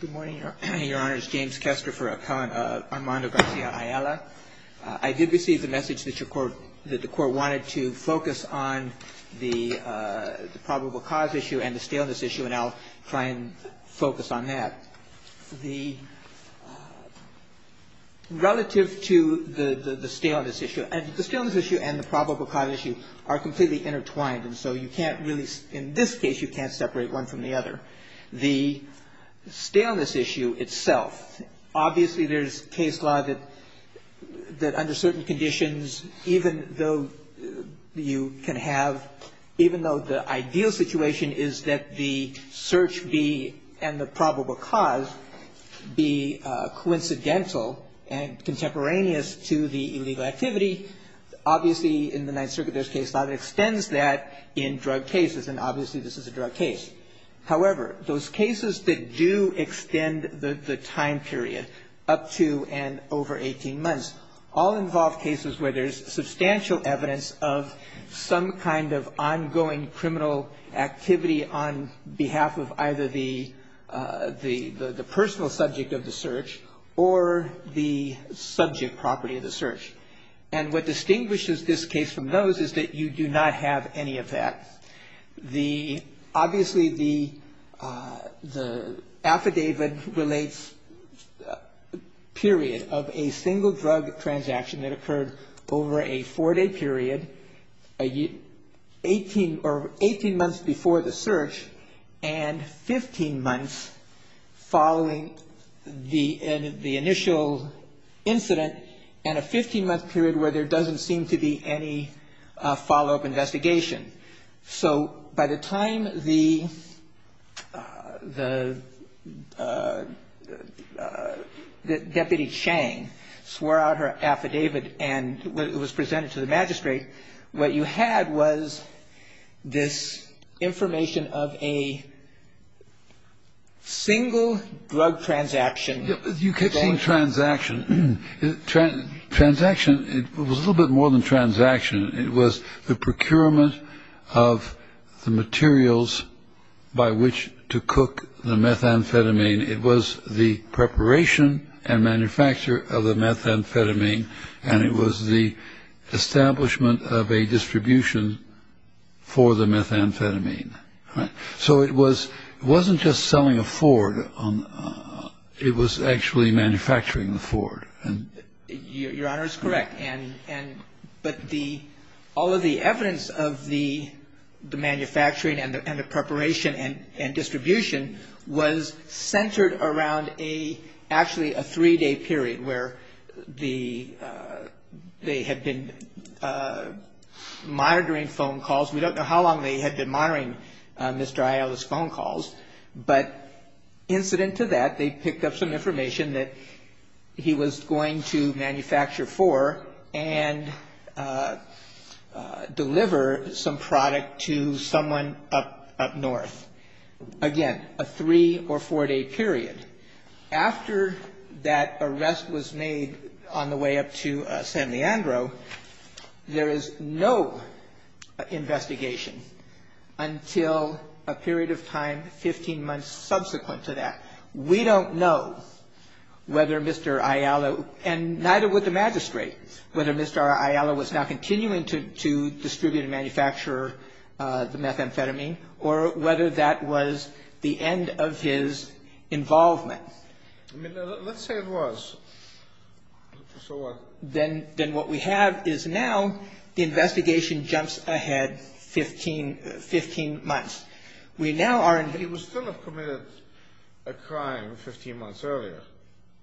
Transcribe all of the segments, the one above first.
Good morning, Your Honors. James Kester for Armando Garcia Ayala. I did receive the message that the Court wanted to focus on the probable cause issue and the staleness issue, and I'll try and focus on that. Relative to the staleness issue, and the staleness issue and the probable cause issue are completely intertwined, and so you can't really, in this case, you can't separate one from the other. The staleness issue itself, obviously there's case law that under certain conditions, even though you can have, even though the ideal situation is that the search be, and the probable cause be coincidental and contemporaneous to the illegal activity, obviously in the Ninth Circuit there's case law that extends that in drug cases, and obviously this is a drug case. However, those cases that do extend the time period, up to and over 18 months, all involve cases where there's substantial evidence of some kind of ongoing criminal activity on behalf of either the personal subject of the search or the subject property of the search. And what distinguishes this case from those is that you do not have any of that. Obviously the affidavit relates period of a single drug transaction that occurred over a four-day period, 18 months before the search, and 15 months following the initial incident, and a 15-month period where there doesn't seem to be any follow-up investigation. So by the time the Deputy Chang swore out her affidavit and it was presented to the magistrate, what you had was this information of a single drug transaction. You kept saying transaction. Transaction was a little bit more than transaction. It was the procurement of the materials by which to cook the methamphetamine. It was the preparation and manufacture of the methamphetamine, and it was the establishment of a distribution for the methamphetamine. So it wasn't just selling a Ford. It was actually manufacturing the Ford. Your Honor is correct, but all of the evidence of the manufacturing and the preparation and distribution was centered around actually a three-day period where they had been monitoring phone calls. We don't know how long they had been monitoring Mr. Ayala's phone calls, but incident to that, they picked up some information that he was going to manufacture for and deliver some product to someone up north. Again, a three- or four-day period. After that arrest was made on the way up to San Leandro, there is no investigation until a period of time 15 months subsequent to that. We don't know whether Mr. Ayala, and neither would the magistrate, whether Mr. Ayala was now continuing to distribute and manufacture the methamphetamine or whether that was the end of his involvement. I mean, let's say it was. So what? Then what we have is now the investigation jumps ahead 15 months. We now are in the But he would still have committed a crime 15 months earlier.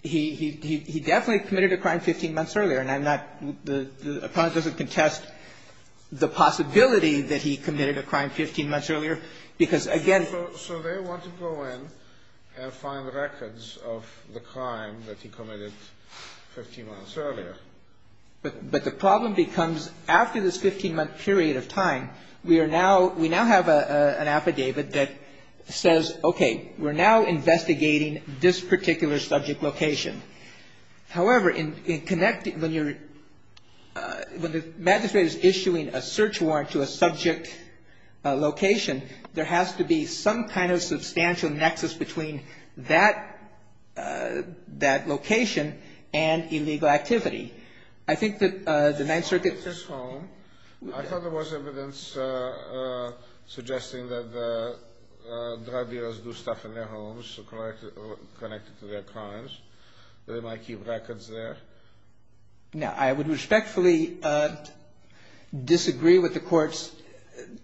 He definitely committed a crime 15 months earlier, and I'm not. The appellant doesn't contest the possibility that he committed a crime 15 months earlier because, again So they want to go in and find records of the crime that he committed 15 months earlier. But the problem becomes after this 15-month period of time, we now have an affidavit that says, okay, we're now investigating this particular subject location. However, when the magistrate is issuing a search warrant to a subject location, there has to be some kind of substantial nexus between that location and illegal activity. I think that the Ninth Circuit I thought there was evidence suggesting that drug dealers do stuff in their homes connected to their crimes. They might keep records there. Now, I would respectfully disagree with the court's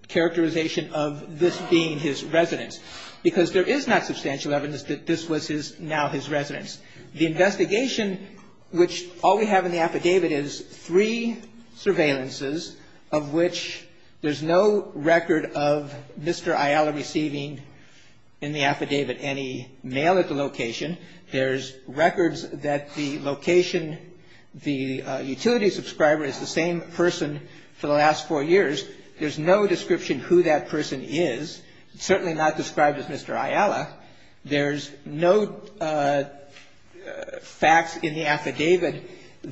characterization of this being his residence because there is not substantial evidence that this was now his residence. The investigation, which all we have in the affidavit, is three surveillances of which there's no record of Mr. Ayala receiving in the affidavit any mail at the location. There's records that the location, the utility subscriber is the same person for the last four years. There's no description who that person is, certainly not described as Mr. Ayala. There's no facts in the affidavit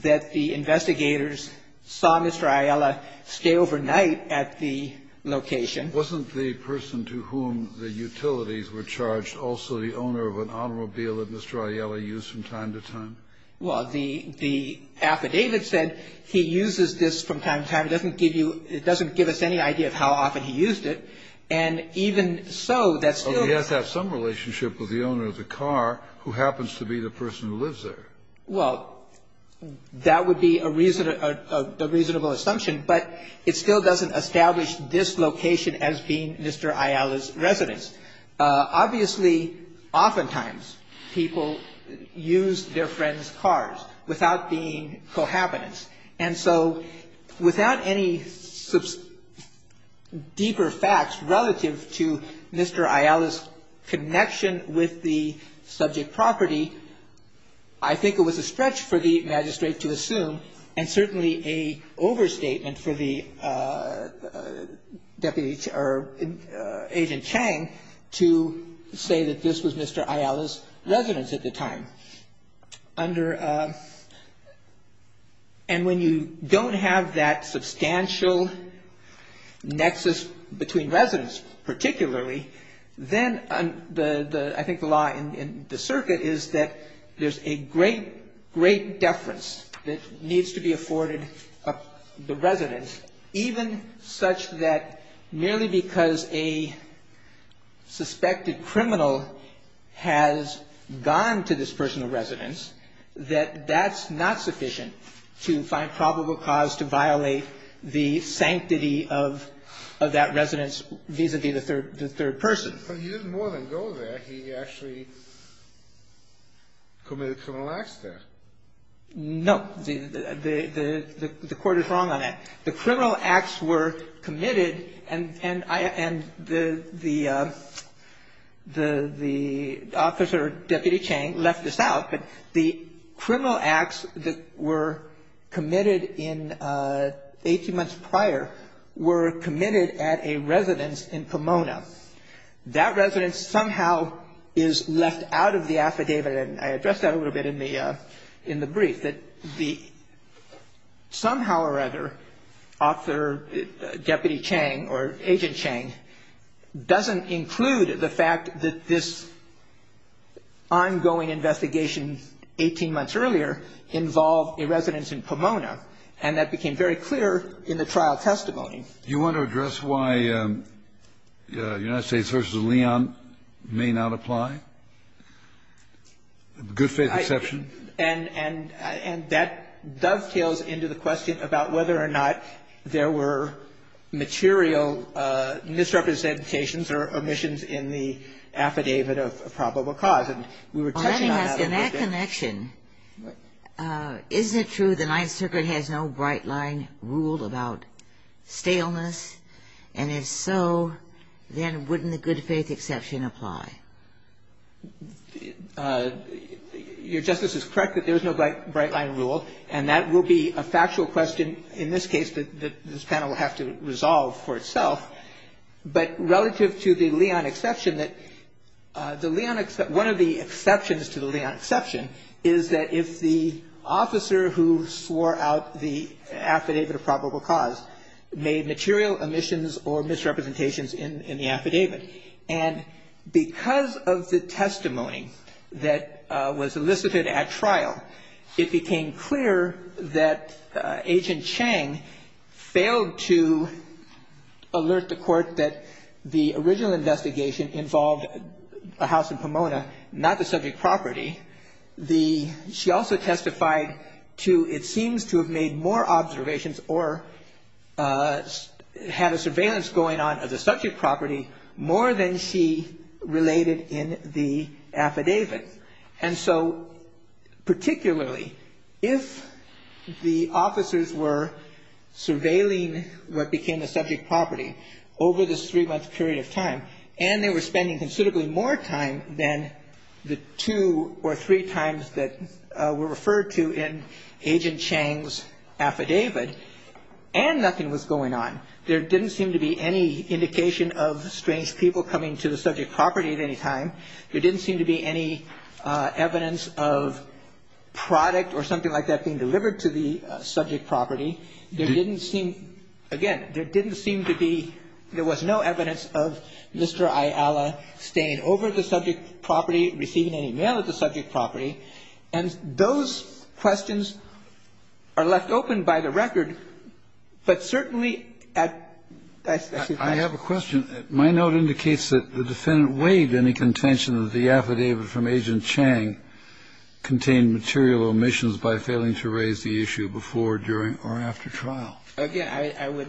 that the investigators saw Mr. Ayala stay overnight at the location. Kennedy, wasn't the person to whom the utilities were charged also the owner of an automobile that Mr. Ayala used from time to time? Well, the affidavit said he uses this from time to time. It doesn't give you – it doesn't give us any idea of how often he used it. And even so, that still – So he has to have some relationship with the owner of the car who happens to be the person who lives there. Well, that would be a reasonable assumption, but it still doesn't establish this location as being Mr. Ayala's residence. Obviously, oftentimes people use their friend's cars without being cohabitants. And so without any deeper facts relative to Mr. Ayala's connection with the subject property, I think it was a stretch for the Magistrate to assume and certainly a overstatement for the deputy – or Agent Chang to say that this was Mr. Ayala's residence at the time. Under – and when you don't have that substantial nexus between residents particularly, then I think the law in the circuit is that there's a great, great deference that needs to be afforded residence, even such that merely because a suspected criminal has gone to this personal residence, that that's not sufficient to find probable cause to violate the sanctity of that residence vis-à-vis the third person. But he didn't more than go there. He actually committed criminal acts there. No. The Court is wrong on that. The criminal acts were committed and the officer, Deputy Chang, left this out, but the criminal acts that were committed in 18 months prior were committed at a residence in Pomona. That residence somehow is left out of the affidavit. And I addressed that a little bit in the brief, that the – somehow or other, Officer Deputy Chang or Agent Chang doesn't include the fact that this ongoing investigation 18 months earlier involved a residence in Pomona, and that became very clear in the trial testimony. You want to address why United States v. Leon may not apply? Good faith exception? And that dovetails into the question about whether or not there were material misrepresentations or omissions in the affidavit of probable cause. And we were touching on that a little bit. And if so, then wouldn't the good faith exception apply? Your Justice is correct that there is no bright line rule, and that will be a factual question in this case that this panel will have to resolve for itself. But relative to the Leon exception, that the Leon – one of the exceptions to the Leon exception is that if the officer who swore out the affidavit of probable cause made material omissions or misrepresentations in the affidavit. And because of the testimony that was elicited at trial, it became clear that Agent Chang failed to alert the Court that the original investigation involved a house in Pomona, not the subject property. She also testified to it seems to have made more observations or had a surveillance going on of the subject property more than she related in the affidavit. And so particularly if the officers were surveilling what became the subject property over this three-month period of time, and they were spending considerably more time than the two or three times that were referred to in Agent Chang's affidavit, and nothing was going on, there didn't seem to be any indication of strange people coming to the subject property at any time. There didn't seem to be any evidence of product or something like that being delivered to the subject property. There didn't seem to be, again, there didn't seem to be, there was no evidence of Mr. Ayala staying over the subject property, receiving any mail at the subject property. And those questions are left open by the record, but certainly at, excuse me. Kennedy. I have a question. My note indicates that the defendant waived any contention that the affidavit from Agent Chang contained material omissions by failing to raise the issue before, during, or after trial. Again, I would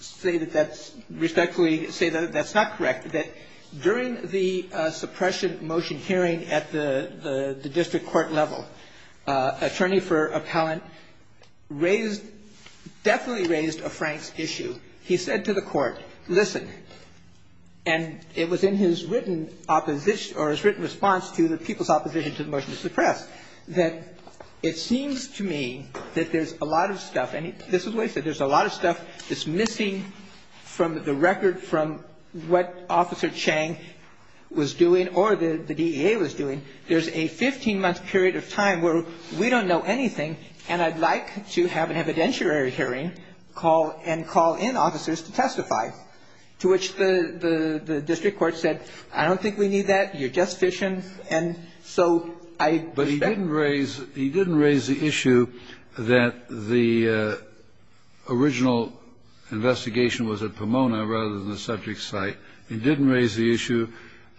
say that that's respectfully say that that's not correct, that during the suppression motion hearing at the district court level, attorney for appellant raised, definitely raised a Franks issue. He said to the court, listen, and it was in his written opposition, or his written response to the people's opposition to the motion to suppress, that it seems to me that there's a lot of stuff, and this is what he said, there's a lot of stuff that's missing from the record from what Officer Chang was doing or the DEA was doing. There's a 15-month period of time where we don't know anything, and I'd like to have an evidentiary hearing and call in officers to testify, to which the district court said, I don't think we need that. You're just fishing. And so I respect that. But he didn't raise the issue that the original investigation was at Pomona rather than the subject site. He didn't raise the issue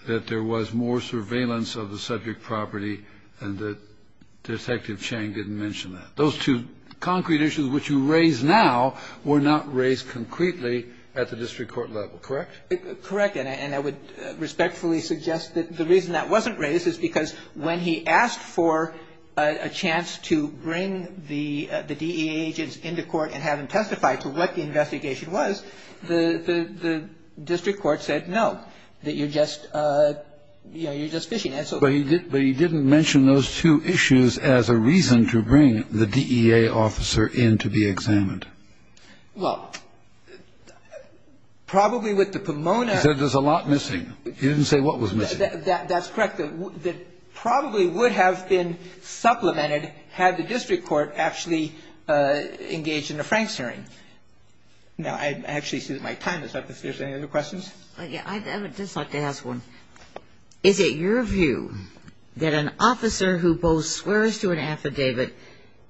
that there was more surveillance of the subject property and that Detective Chang didn't mention that. Those two concrete issues, which you raise now, were not raised concretely at the district court level, correct? Correct. And I would respectfully suggest that the reason that wasn't raised is because when he asked for a chance to bring the DEA agents into court and have them testify to what the investigation was, the district court said no, that you're just, you know, you're just fishing. But he didn't mention those two issues as a reason to bring the DEA officer in to be examined. Well, probably with the Pomona. He said there's a lot missing. He didn't say what was missing. That's correct. That probably would have been supplemented had the district court actually engaged in a Franks hearing. Now, I actually see that my time is up. If there's any other questions? I would just like to ask one. Is it your view that an officer who both swears to an affidavit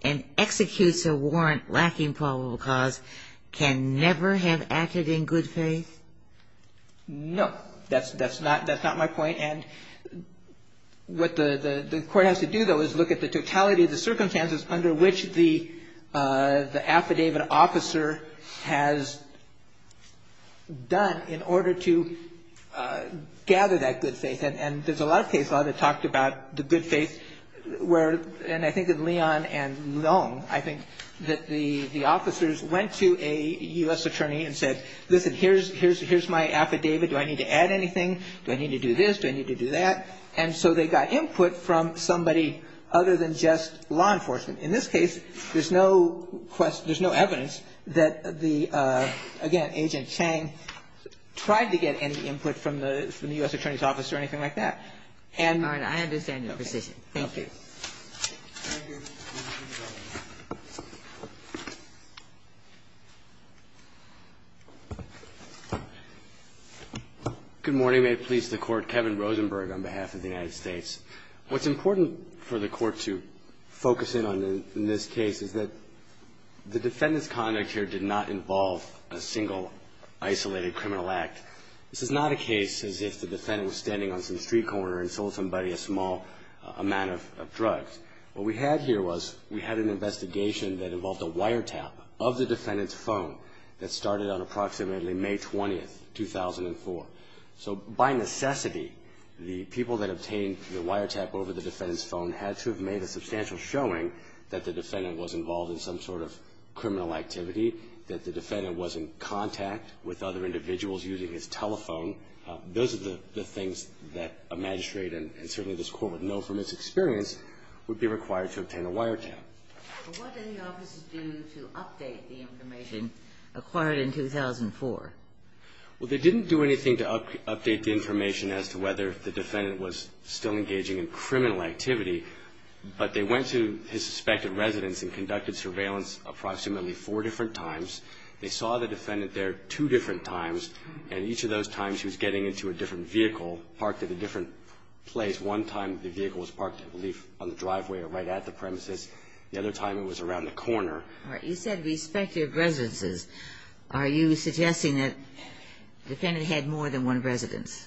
and executes a warrant lacking probable cause can never have acted in good faith? No. That's not my point. And what the court has to do, though, is look at the totality of the circumstances under which the affidavit officer has done in order to gather that good faith. And there's a lot of case law that talked about the good faith. And I think in Leon and Long, I think that the officers went to a U.S. attorney and said, listen, here's my affidavit. Do I need to add anything? Do I need to do this? Do I need to do that? And so they got input from somebody other than just law enforcement. In this case, there's no question or evidence that the, again, Agent Chang tried to get any input from the U.S. attorney's office or anything like that. And I understand your position. Thank you. Thank you. Good morning. May it please the Court. Kevin Rosenberg on behalf of the United States. What's important for the Court to focus in on in this case is that the defendant's conduct here did not involve a single isolated criminal act. This is not a case as if the defendant was standing on some street corner and sold somebody a small amount of drugs. What we had here was we had an investigation that involved a wiretap of the defendant's phone that started on approximately May 20th, 2004. So by necessity, the people that obtained the wiretap over the defendant's phone had to have made a substantial showing that the defendant was involved in some sort of criminal activity, that the defendant was in contact with other individuals using his telephone. Those are the things that a magistrate and certainly this Court would know from its experience would be required to obtain a wiretap. What did the offices do to update the information acquired in 2004? Well, they didn't do anything to update the information as to whether the defendant was still engaging in criminal activity. But they went to his suspected residence and conducted surveillance approximately four different times. They saw the defendant there two different times. And each of those times he was getting into a different vehicle parked at a different place. One time the vehicle was parked, I believe, on the driveway or right at the premises. The other time it was around the corner. All right. You said respective residences. Are you suggesting that the defendant had more than one residence?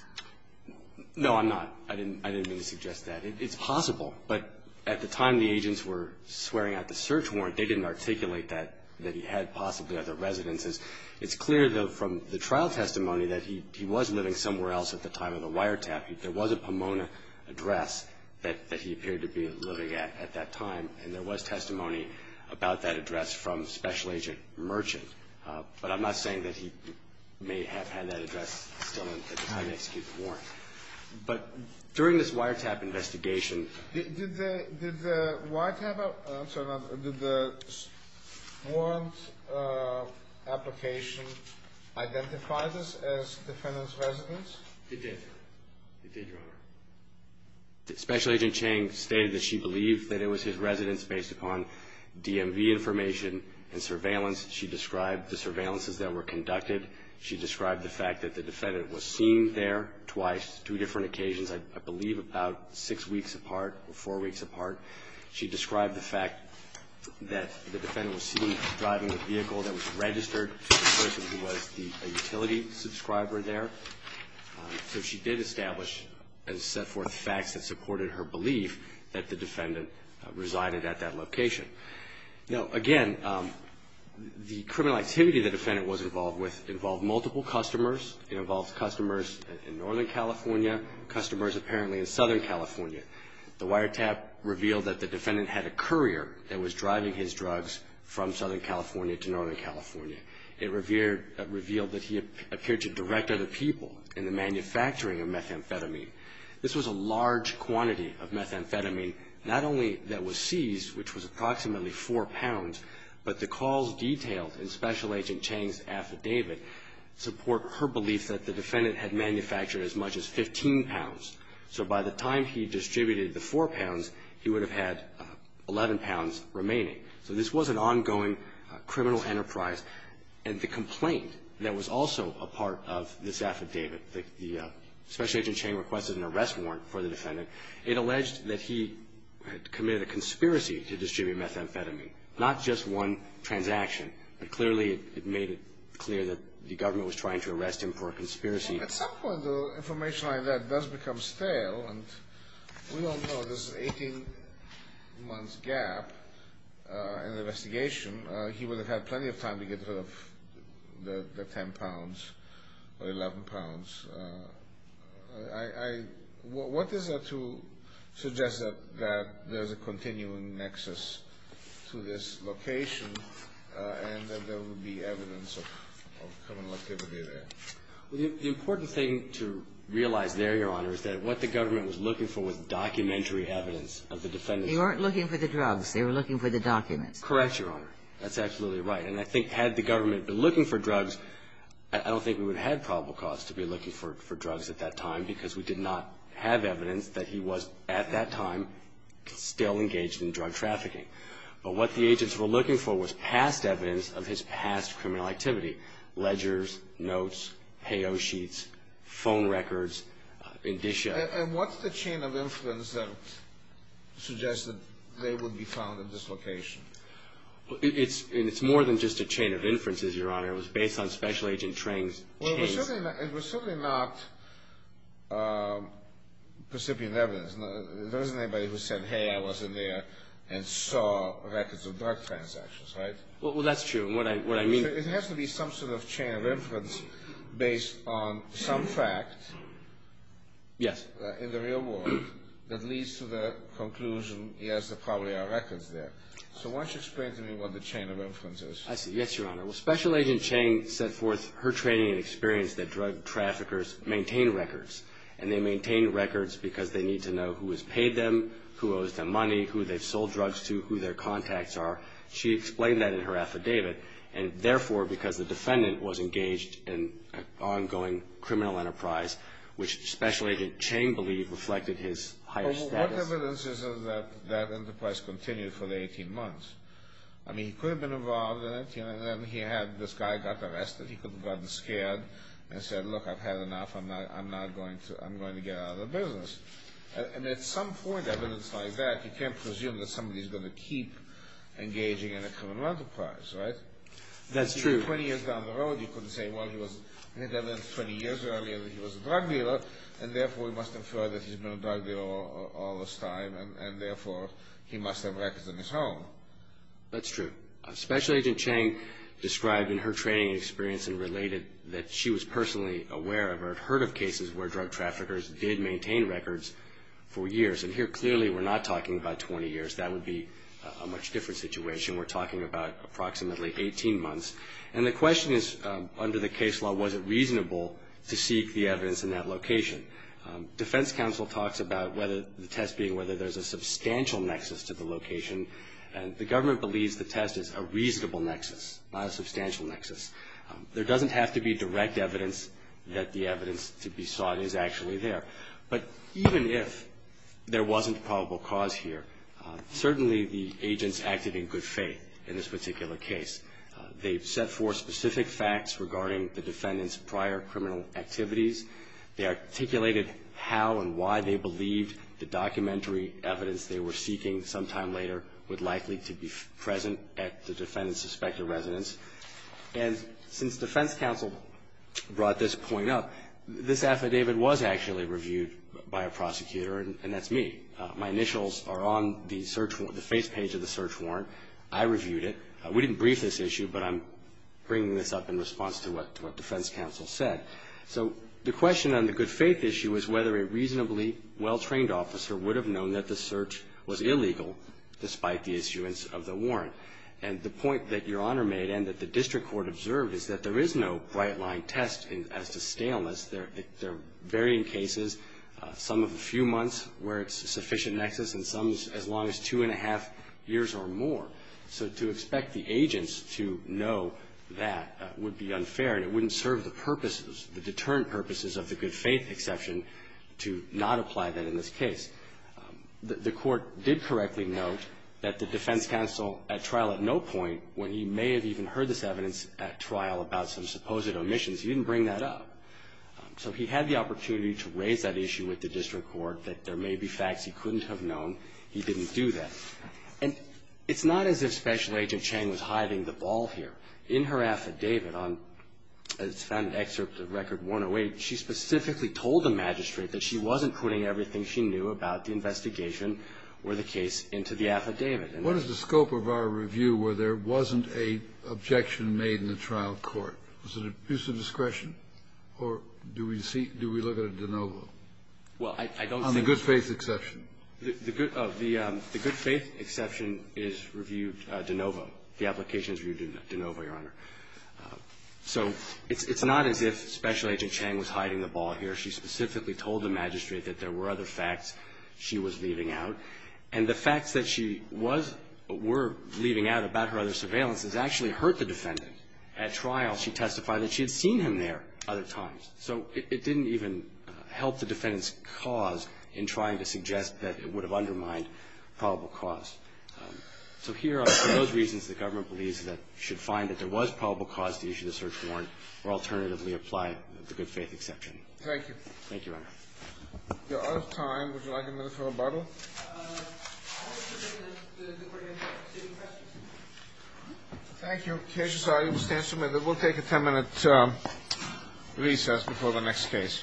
No, I'm not. I didn't mean to suggest that. It's possible. But at the time the agents were swearing out the search warrant, they didn't articulate that he had possibly other residences. It's clear, though, from the trial testimony that he was living somewhere else at the time of the wiretap. There was a Pomona address that he appeared to be living at at that time, and there was testimony about that address from Special Agent Merchant. But I'm not saying that he may have had that address still at the time they executed the warrant. But during this wiretap investigation ---- Did the warrant application identify this as the defendant's residence? It did. It did, Your Honor. Special Agent Chang stated that she believed that it was his residence based upon DMV information and surveillance. She described the surveillances that were conducted. She described the fact that the defendant was seen there twice, two different occasions. I believe about six weeks apart or four weeks apart. She described the fact that the defendant was seen driving a vehicle that was registered to the person who was the utility subscriber there. So she did establish and set forth facts that supported her belief that the defendant resided at that location. Now, again, the criminal activity the defendant was involved with involved multiple customers. It involved customers in Northern California, customers apparently in Southern California. The wiretap revealed that the defendant had a courier that was driving his drugs from Southern California to Northern California. It revealed that he appeared to direct other people in the manufacturing of methamphetamine. This was a large quantity of methamphetamine, not only that was seized, which was approximately four pounds, but the calls detailed in Special Agent Chang's affidavit support her belief that the defendant had manufactured as much as 15 pounds. So by the time he distributed the four pounds, he would have had 11 pounds remaining. So this was an ongoing criminal enterprise. And the complaint that was also a part of this affidavit, the Special Agent Chang requested an arrest warrant for the defendant. It alleged that he had committed a conspiracy to distribute methamphetamine, not just one transaction, but clearly it made it clear that the government was trying to arrest him for a conspiracy. At some point, information like that does become stale, and we don't know. There's an 18-month gap in the investigation. He would have had plenty of time to get rid of the 10 pounds or 11 pounds. What is there to suggest that there's a continuing nexus to this? And that there would be evidence of criminal activity there? The important thing to realize there, Your Honor, is that what the government was looking for was documentary evidence of the defendant's crime. They weren't looking for the drugs. They were looking for the documents. Correct, Your Honor. That's absolutely right. And I think had the government been looking for drugs, I don't think we would have probable cause to be looking for drugs at that time because we did not have evidence that he was, at that time, still engaged in drug trafficking. But what the agents were looking for was past evidence of his past criminal activity, ledgers, notes, payo sheets, phone records, indicia. And what's the chain of inference that suggests that they would be found at this location? It's more than just a chain of inferences, Your Honor. It was based on special agent trains. It was certainly not recipient evidence. There wasn't anybody who said, hey, I wasn't there and saw records of drug transactions, right? Well, that's true. What I mean is it has to be some sort of chain of inference based on some fact in the real world that leads to the conclusion, yes, there probably are records there. So why don't you explain to me what the chain of inference is? I see. Yes, Your Honor. Well, Special Agent Chang set forth her training and experience that drug traffickers maintain records, and they maintain records because they need to know who has paid them, who owes them money, who they've sold drugs to, who their contacts are. She explained that in her affidavit. And therefore, because the defendant was engaged in an ongoing criminal enterprise, which Special Agent Chang believed reflected his higher status. Well, what evidence is it that that enterprise continued for 18 months? I mean, he could have been involved in it. And then he had this guy got arrested. He could have gotten scared and said, look, I've had enough. I'm going to get out of the business. And at some point evidence like that, you can't presume that somebody is going to keep engaging in a criminal enterprise, right? That's true. Twenty years down the road, you couldn't say, well, he had evidence 20 years earlier that he was a drug dealer, and therefore he must infer that he's been a drug dealer all this time, and therefore he must have records in his home. That's true. Special Agent Chang described in her training experience and related that she was personally aware of or had heard of cases where drug traffickers did maintain records for years. And here, clearly, we're not talking about 20 years. That would be a much different situation. We're talking about approximately 18 months. And the question is, under the case law, was it reasonable to seek the evidence in that location? Defense counsel talks about the test being whether there's a substantial nexus to the location. And the government believes the test is a reasonable nexus, not a substantial nexus. There doesn't have to be direct evidence that the evidence to be sought is actually there. But even if there wasn't a probable cause here, certainly the agents acted in good faith in this particular case. They set forth specific facts regarding the defendant's prior criminal activities. They articulated how and why they believed the documentary evidence they were seeking sometime later was likely to be present at the defendant's suspected residence. And since defense counsel brought this point up, this affidavit was actually reviewed by a prosecutor, and that's me. My initials are on the search warrant, the face page of the search warrant. I reviewed it. We didn't brief this issue, but I'm bringing this up in response to what defense counsel said. So the question on the good faith issue is whether a reasonably well-trained officer would have known that the search was illegal despite the issuance of the warrant. And the point that Your Honor made and that the district court observed is that there is no bright-line test as to scaleness. There are varying cases, some of a few months where it's a sufficient nexus and some as long as two and a half years or more. So to expect the agents to know that would be unfair, and it wouldn't serve the purposes, the deterrent purposes of the good faith exception, to not apply that in this case. The court did correctly note that the defense counsel at trial at no point, when he may have even heard this evidence at trial about some supposed omissions, he didn't bring that up. So he had the opportunity to raise that issue with the district court, that there may be facts he couldn't have known. He didn't do that. And it's not as if Special Agent Chang was hiding the ball here. In her affidavit on an excerpt of Record 108, she specifically told the magistrate that she wasn't putting everything she knew about the investigation or the case into the affidavit. Kennedy. What is the scope of our review where there wasn't an objection made in the trial court? Was it abuse of discretion? Or do we see do we look at a de novo? Well, I don't think the good faith exception. The good faith exception is reviewed de novo. The application is reviewed de novo, Your Honor. So it's not as if Special Agent Chang was hiding the ball here. She specifically told the magistrate that there were other facts she was leaving out. And the facts that she was or were leaving out about her other surveillance has actually hurt the defendant. At trial, she testified that she had seen him there other times. So it didn't even help the defendant's cause in trying to suggest that it would have undermined probable cause. So here are some of those reasons the government believes that you should find that there was probable cause to issue the search warrant or alternatively apply the good faith exception. Thank you. Thank you, Your Honor. We're out of time. Would you like a minute for rebuttal? I would like to take a minute to take questions. Thank you. We'll take a ten-minute recess before the next case. All rise.